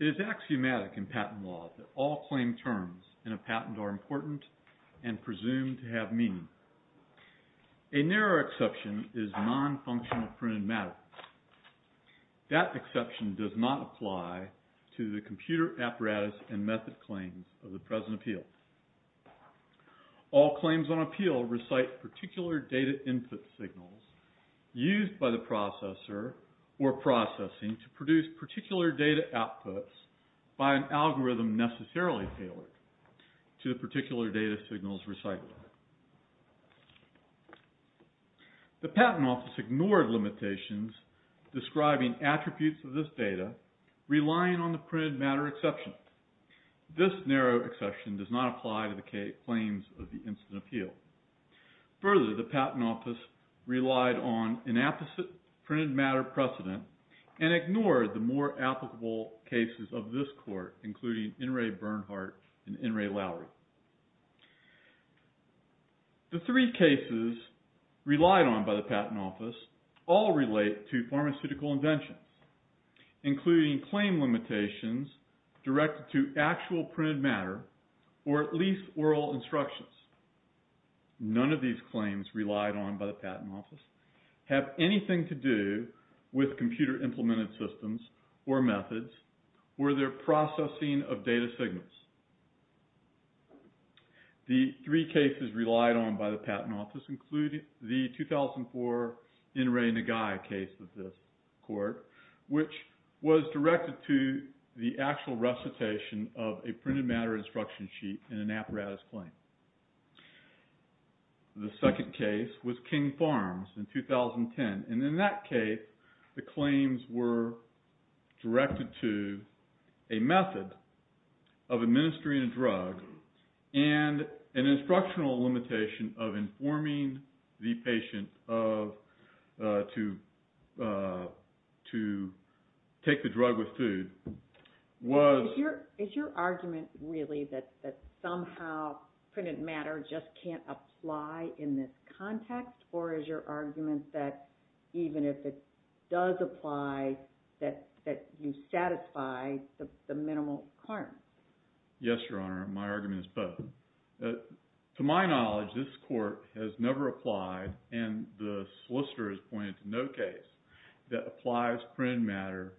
It is axiomatic in patent law that all claimed terms in a patent are important and presumed to have meaning. A narrow exception is non-functional pruned matter. That exception does not apply to the computer apparatus and method claims of the present appeal. All claims on appeal recite particular data input signals used by the processor or processing to produce particular data outputs by an algorithm necessarily tailored to the particular data signals recited. The patent office ignored limitations describing attributes of this data relying on the pruned matter exception. This narrow exception does not apply to the claims of the instant appeal. Further, the patent office relied on an apposite pruned matter precedent and ignored the more applicable cases of this court including In Re Bernhardt and In Re Lowry. The three cases relied on by the patent office all relate to pharmaceutical inventions including claim limitations directed to actual pruned matter or at least oral instructions. None of these claims relied on by the patent office have anything to do with computer implemented systems or methods or their processing of data signals. The three cases relied on by the patent office include the 2004 In Re Nagai case of this court which was directed to the actual recitation of a pruned matter instruction sheet in an apparatus claim. The second case was King Farms in 2010 and in that case the claims were directed to a method of administering a drug and an instructional limitation of informing the patient to take the drug with food. Is your argument really that somehow pruned matter just can't apply in this context or is your argument that even if it does apply that you satisfy the minimal requirement? Yes, Your Honor. My argument is both. To my knowledge, this court has never applied and the solicitor has pointed to no case that applies pruned matter.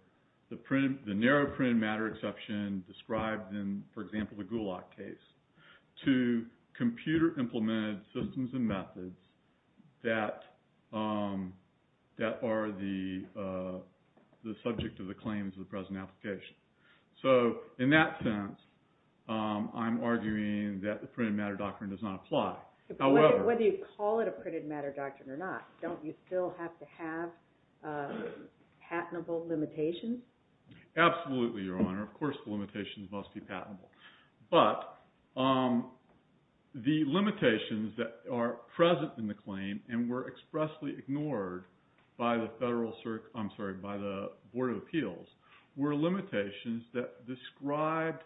The narrow pruned matter exception described in, for example, the Gulak case to computer implemented systems and methods that are the subject of the claims of the present application. So in that sense, I'm arguing that the pruned matter doctrine does not apply. Whether you call it a pruned matter doctrine or not, don't you still have to have patentable limitations? Absolutely, Your Honor. Of course the limitations must be patentable. But the limitations that are present in the claim and were expressly ignored by the Board of Appeals were limitations that described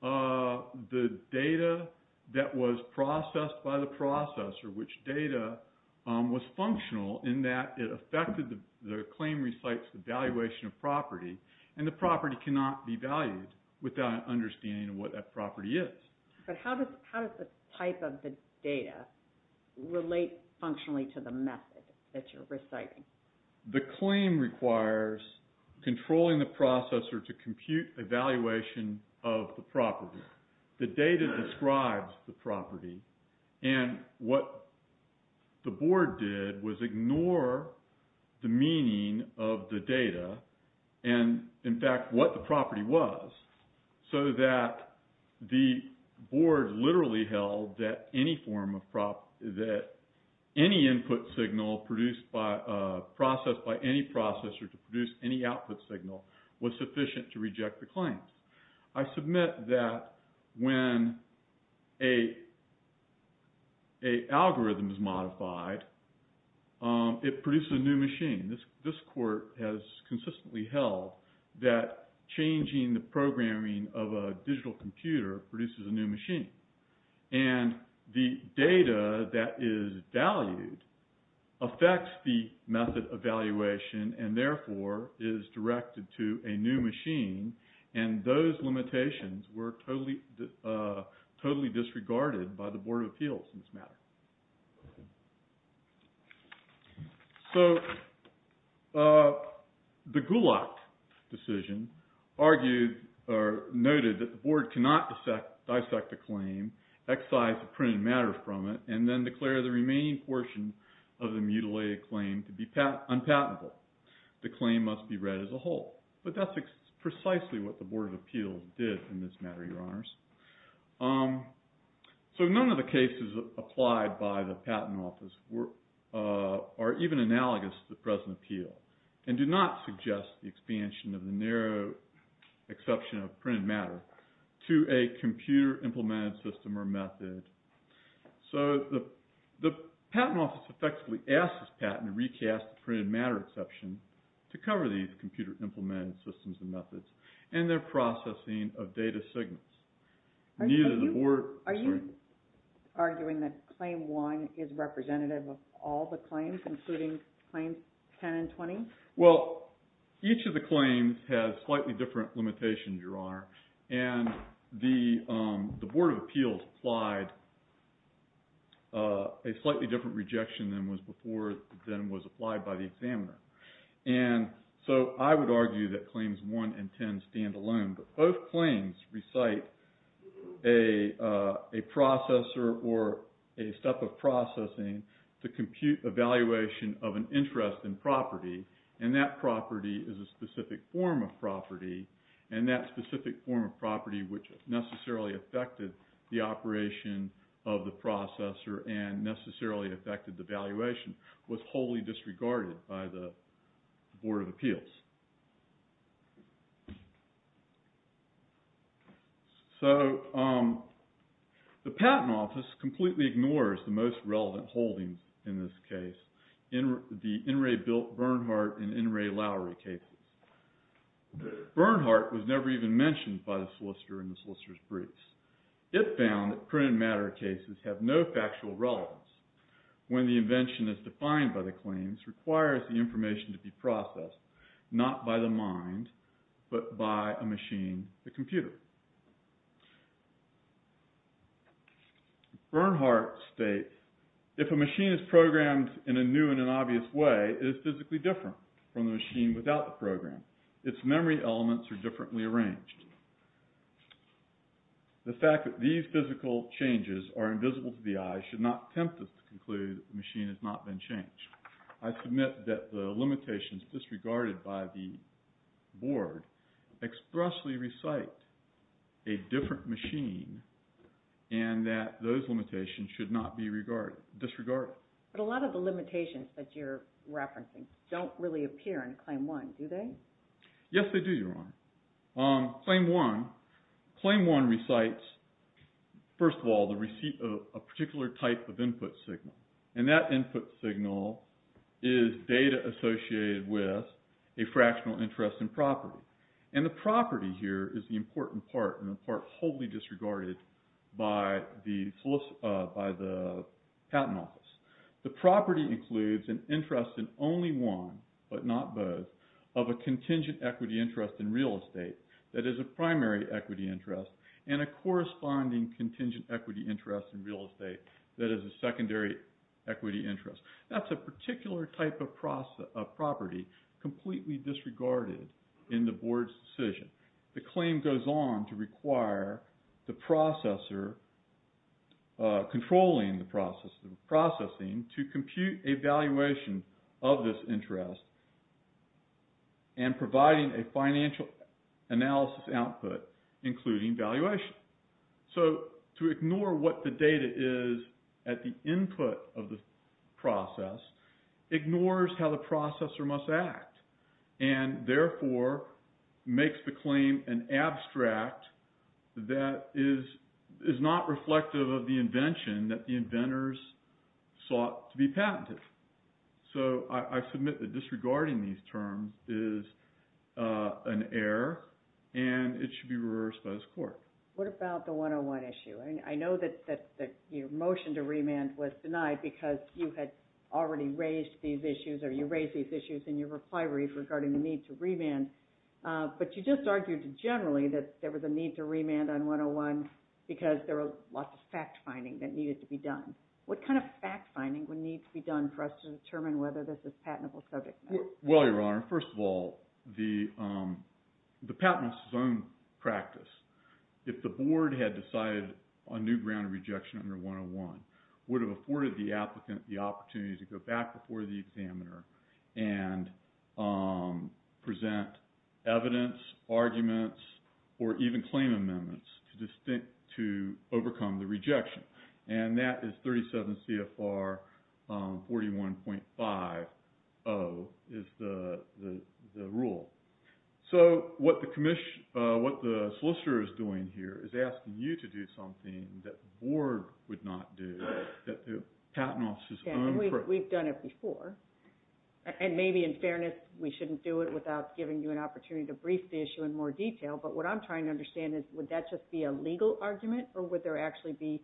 the data that was processed by the processor, which data was functional in that it affected the claim recites the valuation of property and the property cannot be valued without an understanding of what that property is. But how does the type of the data relate functionally to the method that you're reciting? The claim requires controlling the processor to compute evaluation of the property. The data describes the property and what the board did was ignore the meaning of the data and, in fact, what the property was. So that the board literally held that any input signal processed by any processor to produce any output signal was sufficient to reject the claim. I submit that when an algorithm is modified, it produces a new machine. This court has consistently held that changing the programming of a digital computer produces a new machine. And the data that is valued affects the method evaluation and, therefore, is directed to a new machine. And those limitations were totally disregarded by the Board of Appeals in this matter. So the Gulak decision argued or noted that the board cannot dissect a claim, excise the printed matter from it, and then declare the remaining portion of the mutilated claim to be unpatentable. The claim must be read as a whole. But that's precisely what the Board of Appeals did in this matter, Your Honors. So none of the cases applied by the Patent Office are even analogous to the present appeal and do not suggest the expansion of the narrow exception of printed matter to a computer implemented system or method. So the Patent Office effectively asks this patent to recast the printed matter exception to cover these computer implemented systems and methods and their processing of data signals. Are you arguing that Claim 1 is representative of all the claims, including Claims 10 and 20? Well, each of the claims has slightly different limitations, Your Honor. And the Board of Appeals applied a slightly different rejection than was applied by the examiner. And so I would argue that Claims 1 and 10 stand alone, but both claims recite a processor or a step of processing to compute evaluation of an interest in property. And that property is a specific form of property, and that specific form of property which necessarily affected the operation of the processor and necessarily affected the evaluation was wholly disregarded by the Board of Appeals. So the Patent Office completely ignores the most relevant holdings in this case, the In re. Bernhardt and In re. Lowry cases. Bernhardt was never even mentioned by the solicitor in the solicitor's briefs. It found that printed matter cases have no factual relevance. When the invention is defined by the claims, it requires the information to be processed, not by the mind, but by a machine, the computer. Bernhardt states, if a machine is programmed in a new and an obvious way, it is physically different from the machine without the program. Its memory elements are differently arranged. The fact that these physical changes are invisible to the eye should not tempt us to conclude that the machine has not been changed. I submit that the limitations disregarded by the Board expressly recite a different machine and that those limitations should not be disregarded. But a lot of the limitations that you're referencing don't really appear in Claim 1, do they? Claim 1 recites, first of all, the receipt of a particular type of input signal. And that input signal is data associated with a fractional interest in property. And the property here is the important part and the part wholly disregarded by the Patent Office. The property includes an interest in only one, but not both, of a contingent equity interest in real estate that is a primary equity interest, and a corresponding contingent equity interest in real estate that is a secondary equity interest. That's a particular type of property completely disregarded in the Board's decision. The claim goes on to require the processor controlling the processing to compute a valuation of this interest and providing a financial analysis output including valuation. So to ignore what the data is at the input of the process ignores how the processor must act and therefore makes the claim an abstract that is not reflective of the invention that the inventors sought to be patented. So I submit that disregarding these terms is an error and it should be reversed by this Court. What about the 101 issue? I know that your motion to remand was denied because you had already raised these issues or you raised these issues in your reply read regarding the need to remand. But you just argued generally that there was a need to remand on 101 because there was lots of fact-finding that needed to be done. What kind of fact-finding would need to be done for us to determine whether this is patentable subject matter? Well, Your Honor, first of all, the patent is its own practice. If the Board had decided a new ground of rejection under 101, would have afforded the applicant the opportunity to go back before the examiner and present evidence, arguments, or even claim amendments to overcome the rejection. And that is 37 CFR 41.50 is the rule. So what the solicitor is doing here is asking you to do something that the Board would not do. We've done it before. And maybe in fairness, we shouldn't do it without giving you an opportunity to brief the issue in more detail. But what I'm trying to understand is would that just be a legal argument or would there actually be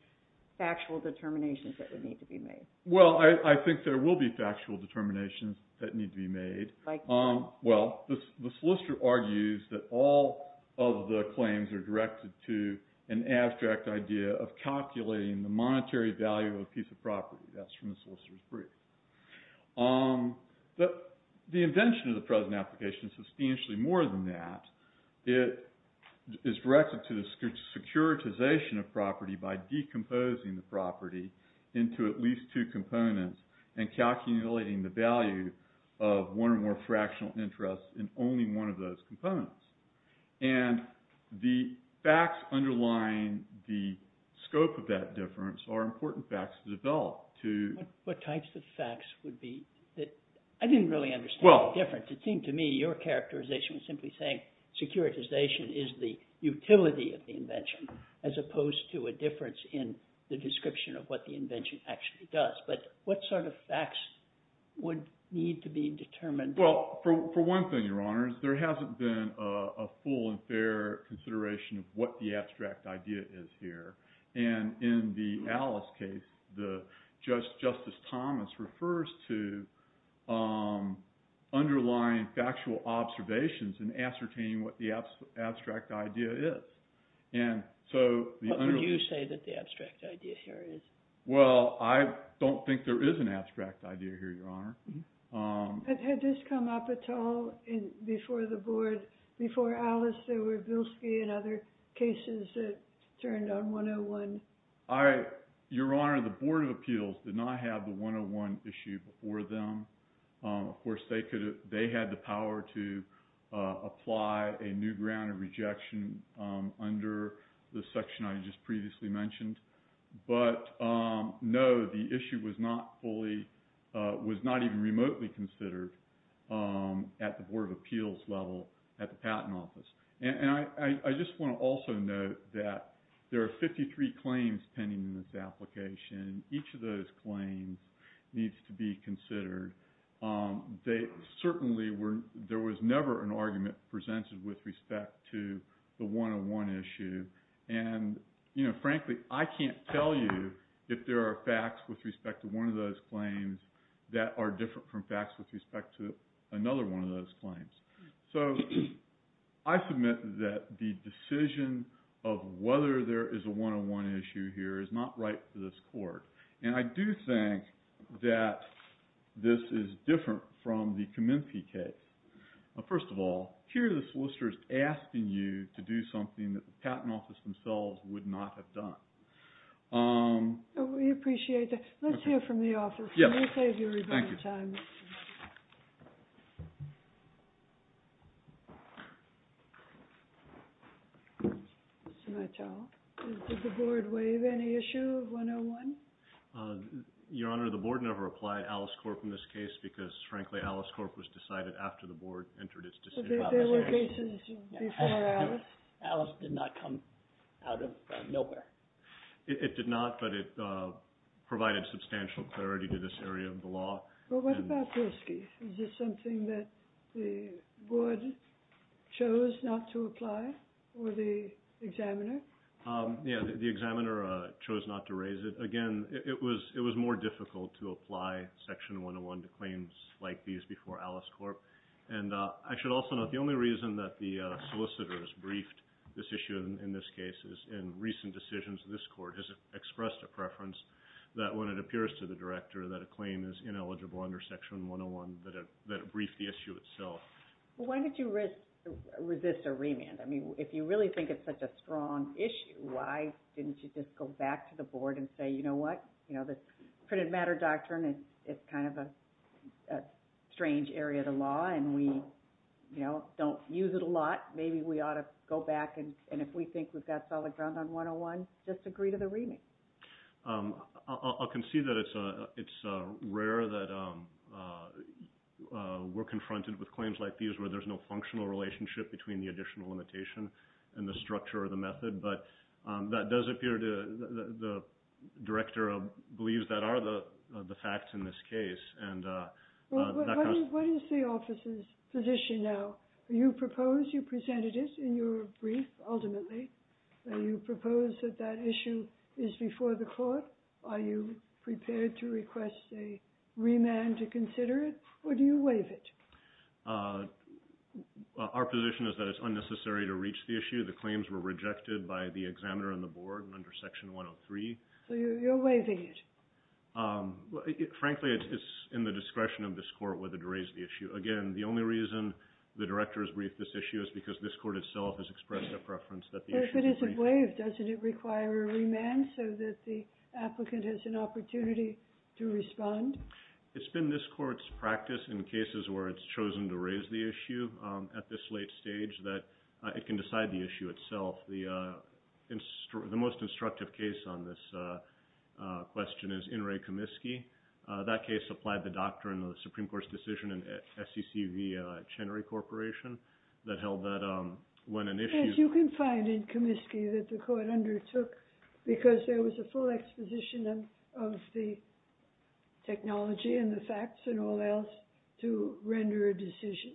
factual determinations that would need to be made? Well, I think there will be factual determinations that need to be made. Well, the solicitor argues that all of the claims are directed to an abstract idea of calculating the monetary value of a piece of property. That's from the solicitor's brief. The invention of the present application is substantially more than that. It is directed to the securitization of property by decomposing the property into at least two components and calculating the value of one or more fractional interests in only one of those components. And the facts underlying the scope of that difference are important facts to develop. What types of facts would be – I didn't really understand the difference. It seemed to me your characterization was simply saying securitization is the utility of the invention as opposed to a difference in the description of what the invention actually does. But what sort of facts would need to be determined? Well, for one thing, Your Honors, there hasn't been a full and fair consideration of what the abstract idea is here. And in the Alice case, Justice Thomas refers to underlying factual observations in ascertaining what the abstract idea is. What would you say that the abstract idea here is? Well, I don't think there is an abstract idea here, Your Honor. Had this come up at all before the board? Before Alice, there were Bilski and other cases that turned on 101. Your Honor, the Board of Appeals did not have the 101 issue before them. Of course, they had the power to apply a new ground of rejection under the section I just previously mentioned. But no, the issue was not fully – was not even remotely considered at the Board of Appeals level at the Patent Office. And I just want to also note that there are 53 claims pending in this application. Each of those claims needs to be considered. They certainly were – there was never an argument presented with respect to the 101 issue. And, you know, frankly, I can't tell you if there are facts with respect to one of those claims that are different from facts with respect to another one of those claims. So I submit that the decision of whether there is a 101 issue here is not right for this Court. And I do think that this is different from the Kaminsky case. First of all, here the solicitor is asking you to do something that the Patent Office themselves would not have done. We appreciate that. Let's hear from the office. Let me save you a little bit of time. Thank you. Did the Board waive any issue of 101? Your Honor, the Board never applied Alice Corp in this case because, frankly, Alice Corp was decided after the Board entered its decision. There were cases before Alice? Alice did not come out of nowhere. It did not, but it provided substantial clarity to this area of the law. Well, what about Pilsky? Is this something that the Board chose not to apply or the examiner? Yes, the examiner chose not to raise it. Again, it was more difficult to apply Section 101 to claims like these before Alice Corp. And I should also note the only reason that the solicitors briefed this issue in this case is in recent decisions, this Court has expressed a preference that when it appears to the Director that a claim is ineligible under Section 101, that it brief the issue itself. Why did you resist a remand? I mean, if you really think it's such a strong issue, why didn't you just go back to the Board and say, you know what, this printed matter doctrine is kind of a strange area of the law and we don't use it a lot. Maybe we ought to go back and if we think we've got solid ground on 101, just agree to the remand. I'll concede that it's rare that we're confronted with claims like these where there's no functional relationship between the additional limitation and the structure of the method, but that does appear to the Director believes that are the facts in this case. What is the Office's position now? Do you propose you presented it in your brief ultimately? Do you propose that that issue is before the Court? Are you prepared to request a remand to consider it or do you waive it? Our position is that it's unnecessary to reach the issue. The claims were rejected by the Examiner and the Board under Section 103. So you're waiving it? Frankly, it's in the discretion of this Court whether to raise the issue. Again, the only reason the Director has briefed this issue is because this Court itself has expressed a preference that the issue be briefed. If it's waived, doesn't it require a remand so that the applicant has an opportunity to respond? It's been this Court's practice in cases where it's chosen to raise the issue at this late stage that it can decide the issue itself. The most instructive case on this question is In re Comiskey. That case applied the doctrine of the Supreme Court's decision in SEC v. Chenery Corporation that held that when an issue was brought to the Court of Appeals, the Court of Appeals had to make a decision. And you can find in Comiskey that the Court undertook, because there was a full exposition of the technology and the facts and all else, to render a decision.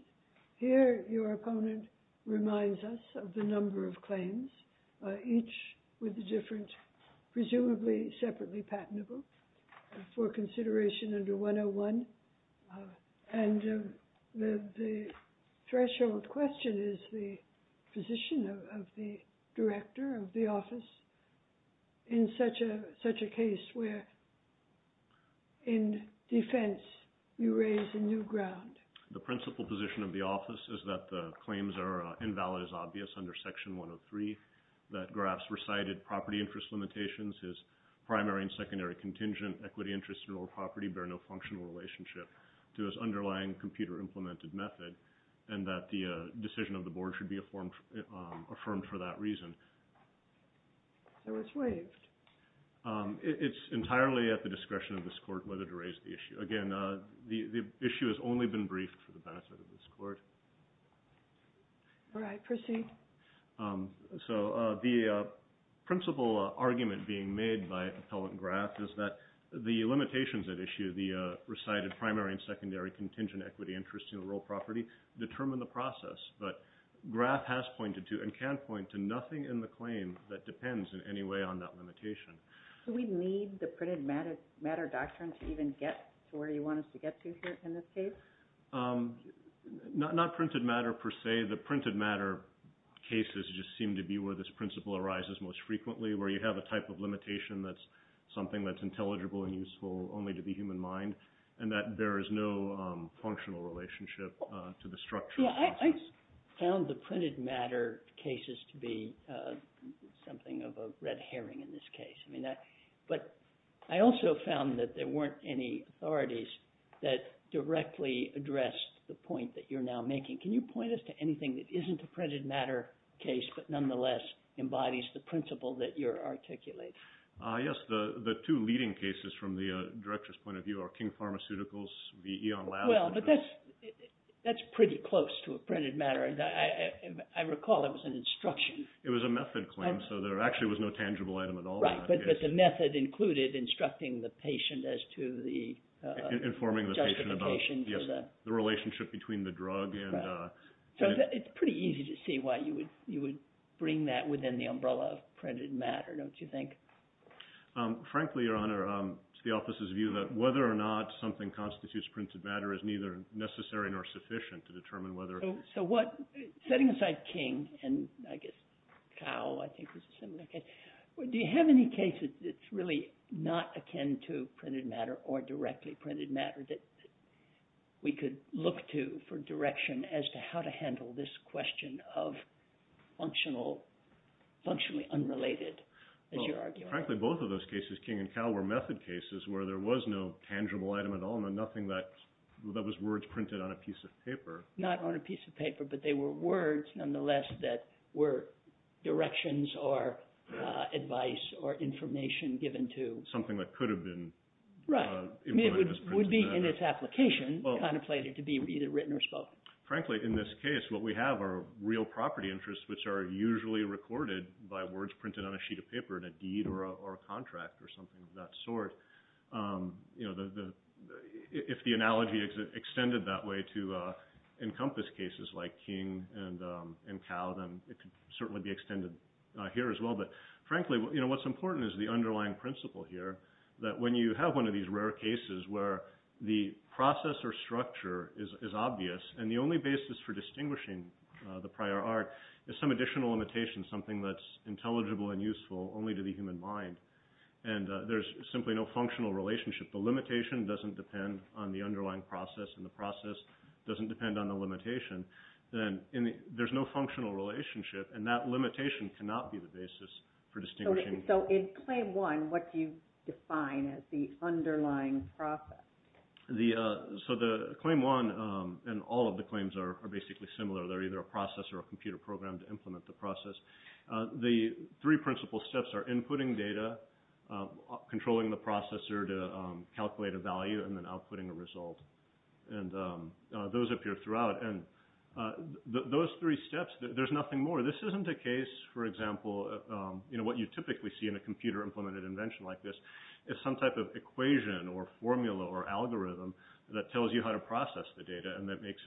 Here, your opponent reminds us of the number of claims, each with a different, presumably separately patentable, for consideration under 101. And the threshold question is the position of the Director of the Office in such a case where, in defense, you raise a new ground. The principal position of the Office is that the claims are invalid as obvious under Section 103, that Graf's recited property interest limitations, his primary and secondary contingent equity interest in real property bear no functional relationship to his underlying computer implemented method, and that the decision of the Board should be affirmed for that reason. So it's waived. It's entirely at the discretion of this Court whether to raise the issue. Again, the issue has only been briefed for the benefit of this Court. All right, proceed. So the principal argument being made by Appellant Graf is that the limitations at issue, the recited primary and secondary contingent equity interest in real property, determine the process. But Graf has pointed to and can point to nothing in the claim that depends in any way on that limitation. Do we need the printed matter doctrine to even get to where you want us to get to here in this case? Not printed matter per se. The printed matter cases just seem to be where this principle arises most frequently, where you have a type of limitation that's something that's intelligible and useful only to the human mind, and that there is no functional relationship to the structure. Yeah, I found the printed matter cases to be something of a red herring in this case. But I also found that there weren't any authorities that directly addressed the point that you're now making. Can you point us to anything that isn't a printed matter case, but nonetheless embodies the principle that you're articulating? Yes, the two leading cases from the Director's point of view are King Pharmaceuticals v. Eon Labs. Well, but that's pretty close to a printed matter. I recall it was an instruction. It was a method claim, so there actually was no tangible item at all. Right, but the method included instructing the patient as to the justification. Informing the patient about, yes, the relationship between the drug. So it's pretty easy to see why you would bring that within the umbrella of printed matter, don't you think? Frankly, Your Honor, it's the office's view that whether or not something constitutes printed matter is neither necessary nor sufficient to determine whether it is. So setting aside King, and I guess Cal, I think was a similar case, do you have any cases that's really not akin to printed matter or directly printed matter that we could look to for direction as to how to handle this question of functionally unrelated, as you argue? Well, frankly, both of those cases, King and Cal, were method cases where there was no tangible item at all and nothing that was word printed on a piece of paper. Not on a piece of paper, but they were words, nonetheless, that were directions or advice or information given to… Something that could have been… Right, it would be in its application contemplated to be either written or spoken. Frankly, in this case, what we have are real property interests, which are usually recorded by words printed on a sheet of paper in a deed or a contract or something of that sort. If the analogy extended that way to encompass cases like King and Cal, then it could certainly be extended here as well. But frankly, what's important is the underlying principle here, that when you have one of these rare cases where the process or structure is obvious and the only basis for distinguishing the prior art is some additional limitation, something that's intelligible and useful only to the human mind. And there's simply no functional relationship. The limitation doesn't depend on the underlying process and the process doesn't depend on the limitation. Then there's no functional relationship and that limitation cannot be the basis for distinguishing… So in Claim 1, what do you define as the underlying process? So the Claim 1 and all of the claims are basically similar. They're either a process or a computer program to implement the process. The three principal steps are inputting data, controlling the processor to calculate a value, and then outputting a result. And those appear throughout. And those three steps, there's nothing more. This isn't a case, for example, what you typically see in a computer-implemented invention like this. It's some type of equation or formula or algorithm that tells you how to process the data and that makes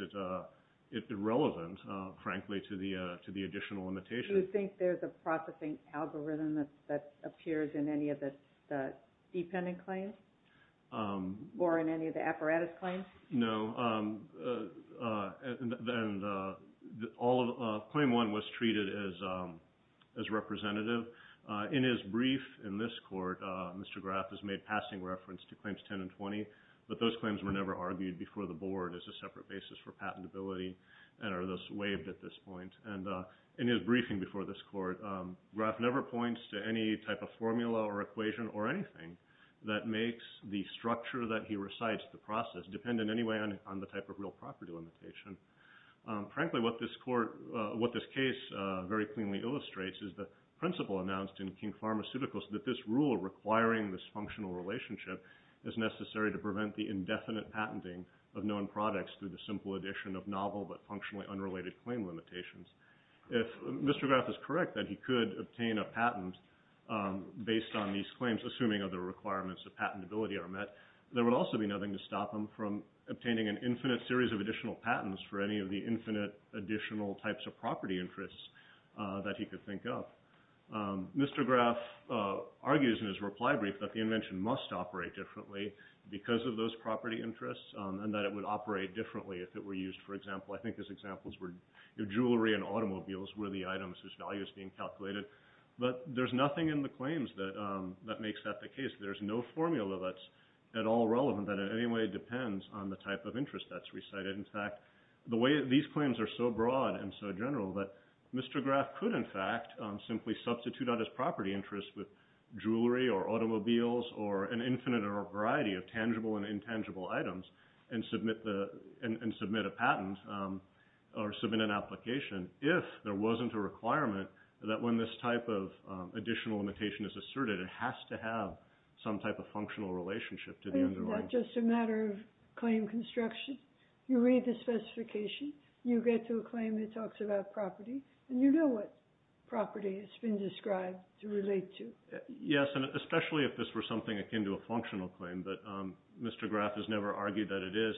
it relevant, frankly, to the additional limitation. Do you think there's a processing algorithm that appears in any of the dependent claims or in any of the apparatus claims? No. Claim 1 was treated as representative. In his brief in this court, Mr. Graf has made passing reference to Claims 10 and 20, but those claims were never argued before the board as a separate basis for patentability and are thus waived at this point. And in his briefing before this court, Graf never points to any type of formula or equation or anything that makes the structure that he recites, the process, dependent in any way on the type of real property limitation. Frankly, what this case very cleanly illustrates is the principle announced in King Pharmaceuticals that this rule requiring this functional relationship is necessary to prevent the indefinite patenting of known products through the simple addition of novel but functionally unrelated claim limitations. If Mr. Graf is correct that he could obtain a patent based on these claims, assuming other requirements of patentability are met, there would also be nothing to stop him from obtaining an infinite series of additional patents for any of the infinite additional types of property interests that he could think of. Mr. Graf argues in his reply brief that the invention must operate differently because of those property interests and that it would operate differently if it were used, for example, I think his examples were jewelry and automobiles were the items whose value is being calculated. But there's nothing in the claims that makes that the case. There's no formula that's at all relevant that in any way depends on the type of interest that's recited. These claims are so broad and so general that Mr. Graf could, in fact, simply substitute out his property interests with jewelry or automobiles or an infinite variety of tangible and intangible items and submit a patent or submit an application if there wasn't a requirement that when this type of additional limitation is asserted, it has to have some type of functional relationship to the underlying. It's not just a matter of claim construction. You read the specification. You get to a claim that talks about property, and you know what property has been described to relate to. Yes, and especially if this were something akin to a functional claim, but Mr. Graf has never argued that it is.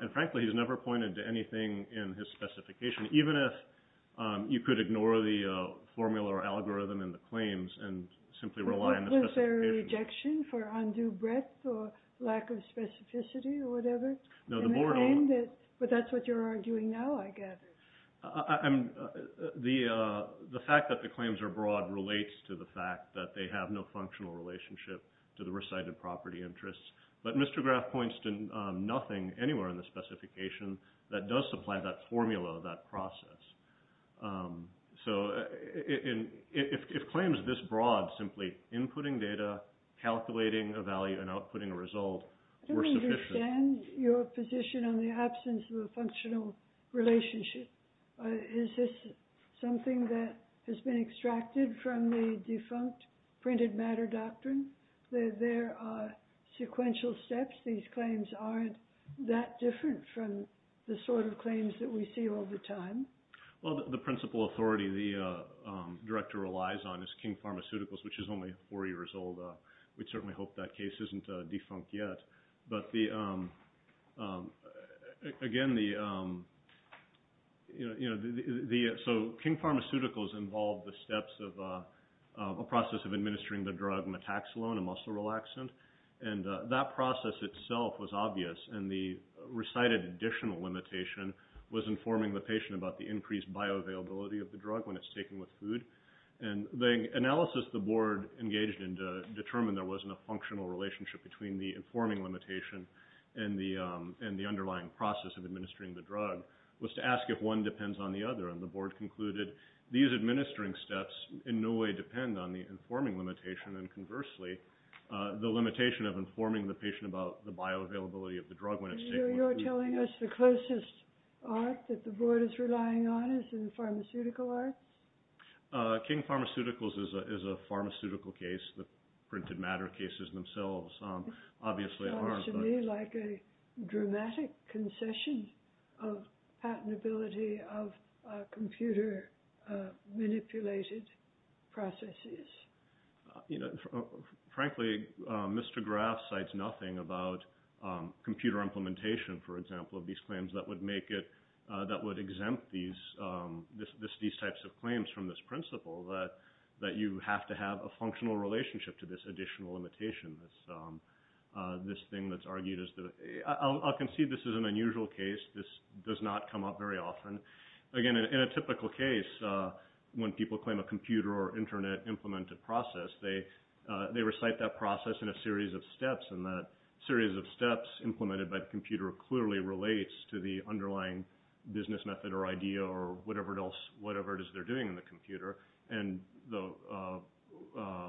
And frankly, he's never pointed to anything in his specification, even if you could ignore the formula or algorithm in the claims and simply rely on the specification. Is there a rejection for undue breadth or lack of specificity or whatever? No, the board— But that's what you're arguing now, I gather. The fact that the claims are broad relates to the fact that they have no functional relationship to the recited property interests. But Mr. Graf points to nothing anywhere in the specification that does supply that formula, that process. So if claims this broad, simply inputting data, calculating a value, and outputting a result were sufficient— I don't understand your position on the absence of a functional relationship. Is this something that has been extracted from the defunct printed matter doctrine? There are sequential steps. These claims aren't that different from the sort of claims that we see all the time. Well, the principal authority the director relies on is King Pharmaceuticals, which is only four years old. We'd certainly hope that case isn't defunct yet. But again, so King Pharmaceuticals involved the steps of a process of administering the drug metaxalon, a muscle relaxant. And that process itself was obvious. And the recited additional limitation was informing the patient about the increased bioavailability of the drug when it's taken with food. And the analysis the board engaged in to determine there wasn't a functional relationship between the informing limitation and the underlying process of administering the drug was to ask if one depends on the other. And the board concluded these administering steps in no way depend on the informing limitation. And conversely, the limitation of informing the patient about the bioavailability of the drug when it's taken with food. You're telling us the closest art that the board is relying on is in pharmaceutical art? King Pharmaceuticals is a pharmaceutical case. The printed matter cases themselves obviously aren't. It seems to me like a dramatic concession of patentability of computer manipulated processes. You know, frankly, Mr. Graf cites nothing about computer implementation, for example, of these claims that would make it that would exempt these these types of claims from this principle that that you have to have a functional relationship to this additional limitation. This thing that's argued is that I'll concede this is an unusual case. This does not come up very often. Again, in a typical case, when people claim a computer or Internet implemented process, they recite that process in a series of steps and that series of steps implemented by the computer clearly relates to the underlying business method or idea or whatever it is they're doing in the computer. And the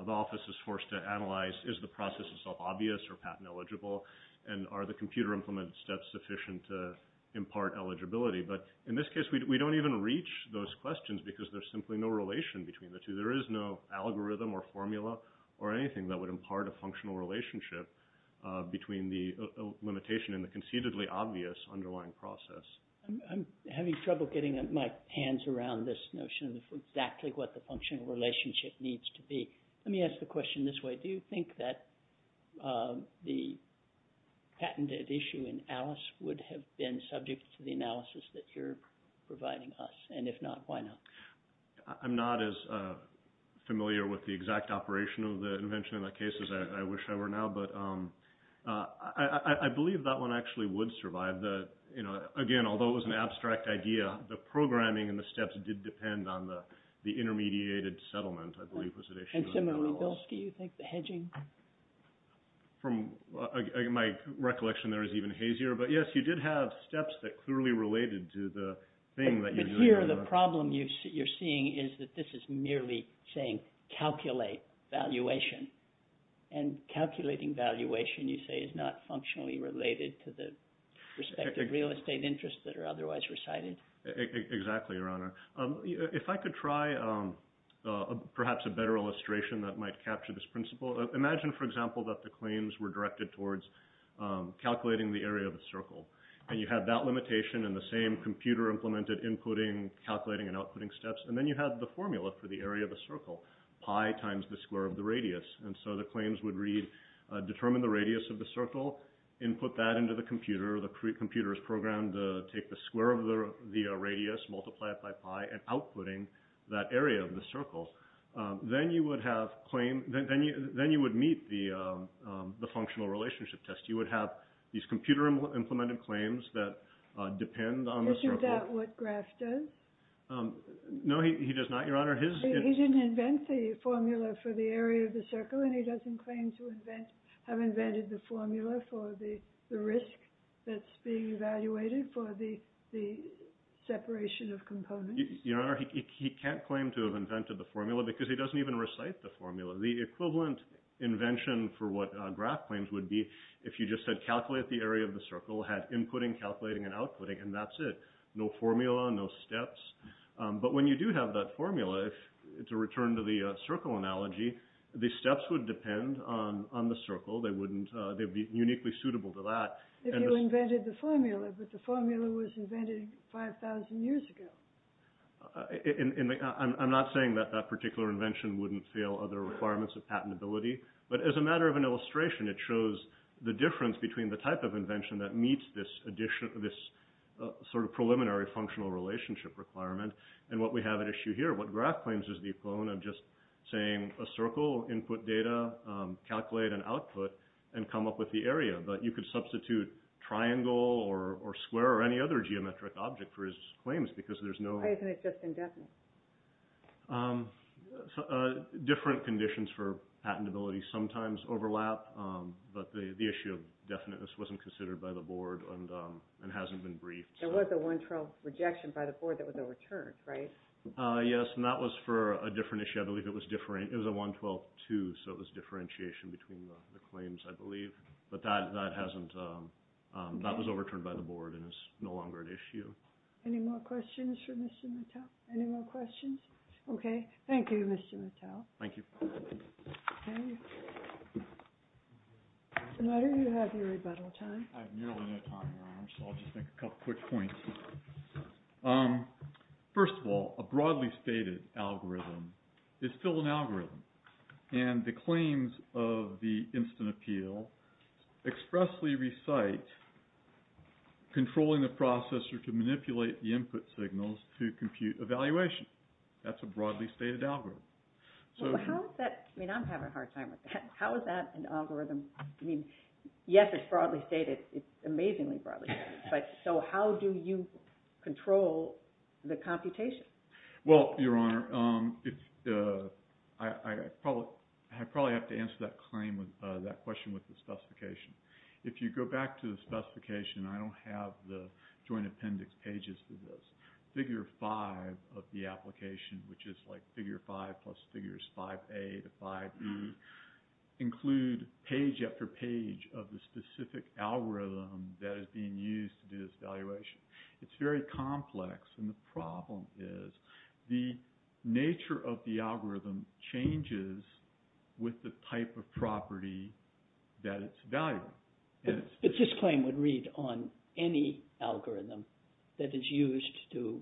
office is forced to analyze, is the process itself obvious or patent eligible? And are the computer implemented steps sufficient to impart eligibility? But in this case, we don't even reach those questions because there's simply no relation between the two. There is no algorithm or formula or anything that would impart a functional relationship between the limitation and the conceitedly obvious underlying process. I'm having trouble getting my hands around this notion of exactly what the functional relationship needs to be. Let me ask the question this way. Do you think that the patented issue in Alice would have been subject to the analysis that you're providing us? And if not, why not? I'm not as familiar with the exact operation of the invention in that case as I wish I were now, but I believe that one actually would survive. Again, although it was an abstract idea, the programming and the steps did depend on the intermediated settlement, I believe was the issue. And similarly, do you think the hedging? From my recollection, there is even hazier. But yes, you did have steps that clearly related to the thing that you're doing. Here, the problem you're seeing is that this is merely saying calculate valuation. And calculating valuation, you say, is not functionally related to the respective real estate interests that are otherwise recited. Exactly, Your Honor. If I could try perhaps a better illustration that might capture this principle. Imagine, for example, that the claims were directed towards calculating the area of the circle. And you have that limitation in the same computer-implemented inputting, calculating, and outputting steps. And then you have the formula for the area of the circle, pi times the square of the radius. And so the claims would determine the radius of the circle, input that into the computer. The computer is programmed to take the square of the radius, multiply it by pi, and outputting that area of the circle. Then you would meet the functional relationship test. You would have these computer-implemented claims that depend on the circle. Isn't that what Graff does? No, he does not, Your Honor. He didn't invent the formula for the area of the circle. And he doesn't claim to have invented the formula for the risk that's being evaluated for the separation of components. Your Honor, he can't claim to have invented the formula because he doesn't even recite the formula. The equivalent invention for what Graff claims would be if you just said calculate the area of the circle, had inputting, calculating, and outputting, and that's it. No formula, no steps. But when you do have that formula, to return to the circle analogy, the steps would depend on the circle. They would be uniquely suitable to that. If you invented the formula, but the formula was invented 5,000 years ago. I'm not saying that that particular invention wouldn't fail other requirements of patentability. But as a matter of an illustration, it shows the difference between the type of invention that meets this sort of preliminary functional relationship requirement and what we have at issue here. What Graff claims is the equivalent of just saying a circle, input data, calculate an output, and come up with the area. But you could substitute triangle or square or any other geometric object for his claims because there's no... Why isn't it just indefinite? Different conditions for patentability sometimes overlap. But the issue of definiteness wasn't considered by the Board and hasn't been briefed. There was a 112 rejection by the Board that was overturned, right? Yes, and that was for a different issue. I believe it was a 112-2, so it was differentiation between the claims, I believe. But that hasn't... that was overturned by the Board and is no longer at issue. Any more questions for Mr. Mattel? Any more questions? Okay, thank you, Mr. Mattel. Thank you. Okay. Senator, you have your rebuttal time. I have nearly no time, Your Honor, so I'll just make a couple quick points. First of all, a broadly stated algorithm is still an algorithm. And the claims of the instant appeal expressly recite controlling the processor to manipulate the input signals to compute evaluation. That's a broadly stated algorithm. So how is that... I mean, I'm having a hard time with that. How is that an algorithm? I mean, yes, it's broadly stated. It's amazingly broadly stated. So how do you control the computation? Well, Your Honor, I probably have to answer that question with the specification. If you go back to the specification, I don't have the Joint Appendix pages for this. Figure 5 of the application, which is like figure 5 plus figures 5A to 5E, include page after page of the specific algorithm that is being used to do this evaluation. It's very complex, and the problem is the nature of the algorithm changes with the type of property that it's evaluated. But this claim would read on any algorithm that is used to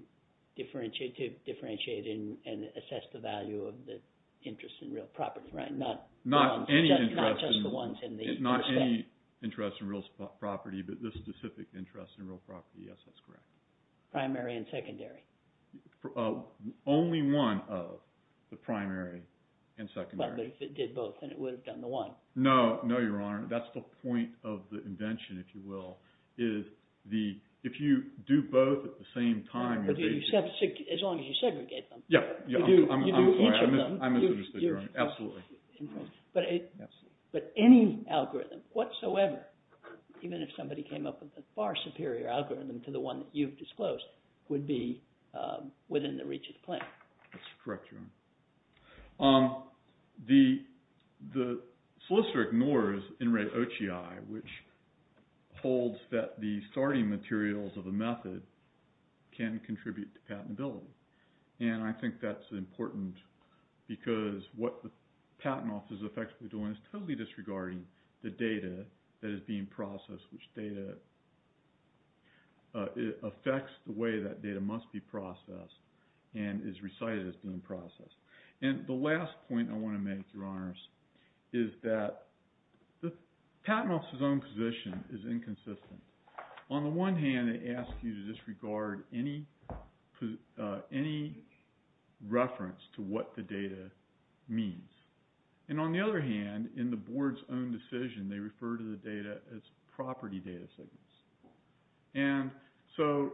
differentiate and assess the value of the interest in real property, right? Not just the ones in the respect. Not any interest in real property, but the specific interest in real property. Yes, that's correct. Primary and secondary. Only one of the primary and secondary. But if it did both, then it would have done the one. No, Your Honor. That's the point of the invention, if you will. If you do both at the same time, you're basically... As long as you segregate them. Yeah, I'm sorry. You do each of them. I misunderstood, Your Honor. Absolutely. But any algorithm whatsoever, even if somebody came up with a far superior algorithm to the one that you've disclosed, would be within the reach of the claim. That's correct, Your Honor. The solicitor ignores in-rate OCI, which holds that the starting materials of a method can contribute to patentability. And I think that's important because what the patent office is effectively doing is totally disregarding the data that is being processed, which affects the way that data must be processed and is recited as being processed. And the last point I want to make, Your Honors, is that the patent office's own position is inconsistent. On the one hand, it asks you to disregard any reference to what the data means. And on the other hand, in the board's own decision, they refer to the data as property data signals. And so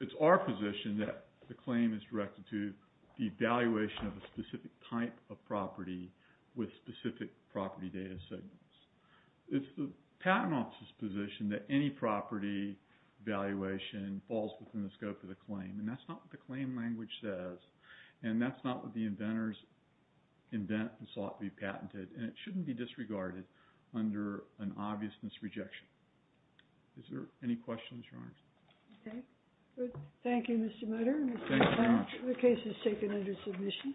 it's our position that the claim is directed to the evaluation of a specific type of property with specific property data signals. It's the patent office's position that any property evaluation falls within the scope of the claim. And that's not what the claim language says. And that's not what the inventors invent and sought to be patented. And it shouldn't be disregarded under an obviousness rejection. Is there any questions, Your Honors? Okay. Thank you, Mr. Mutter. Thank you very much. The case is taken under submission.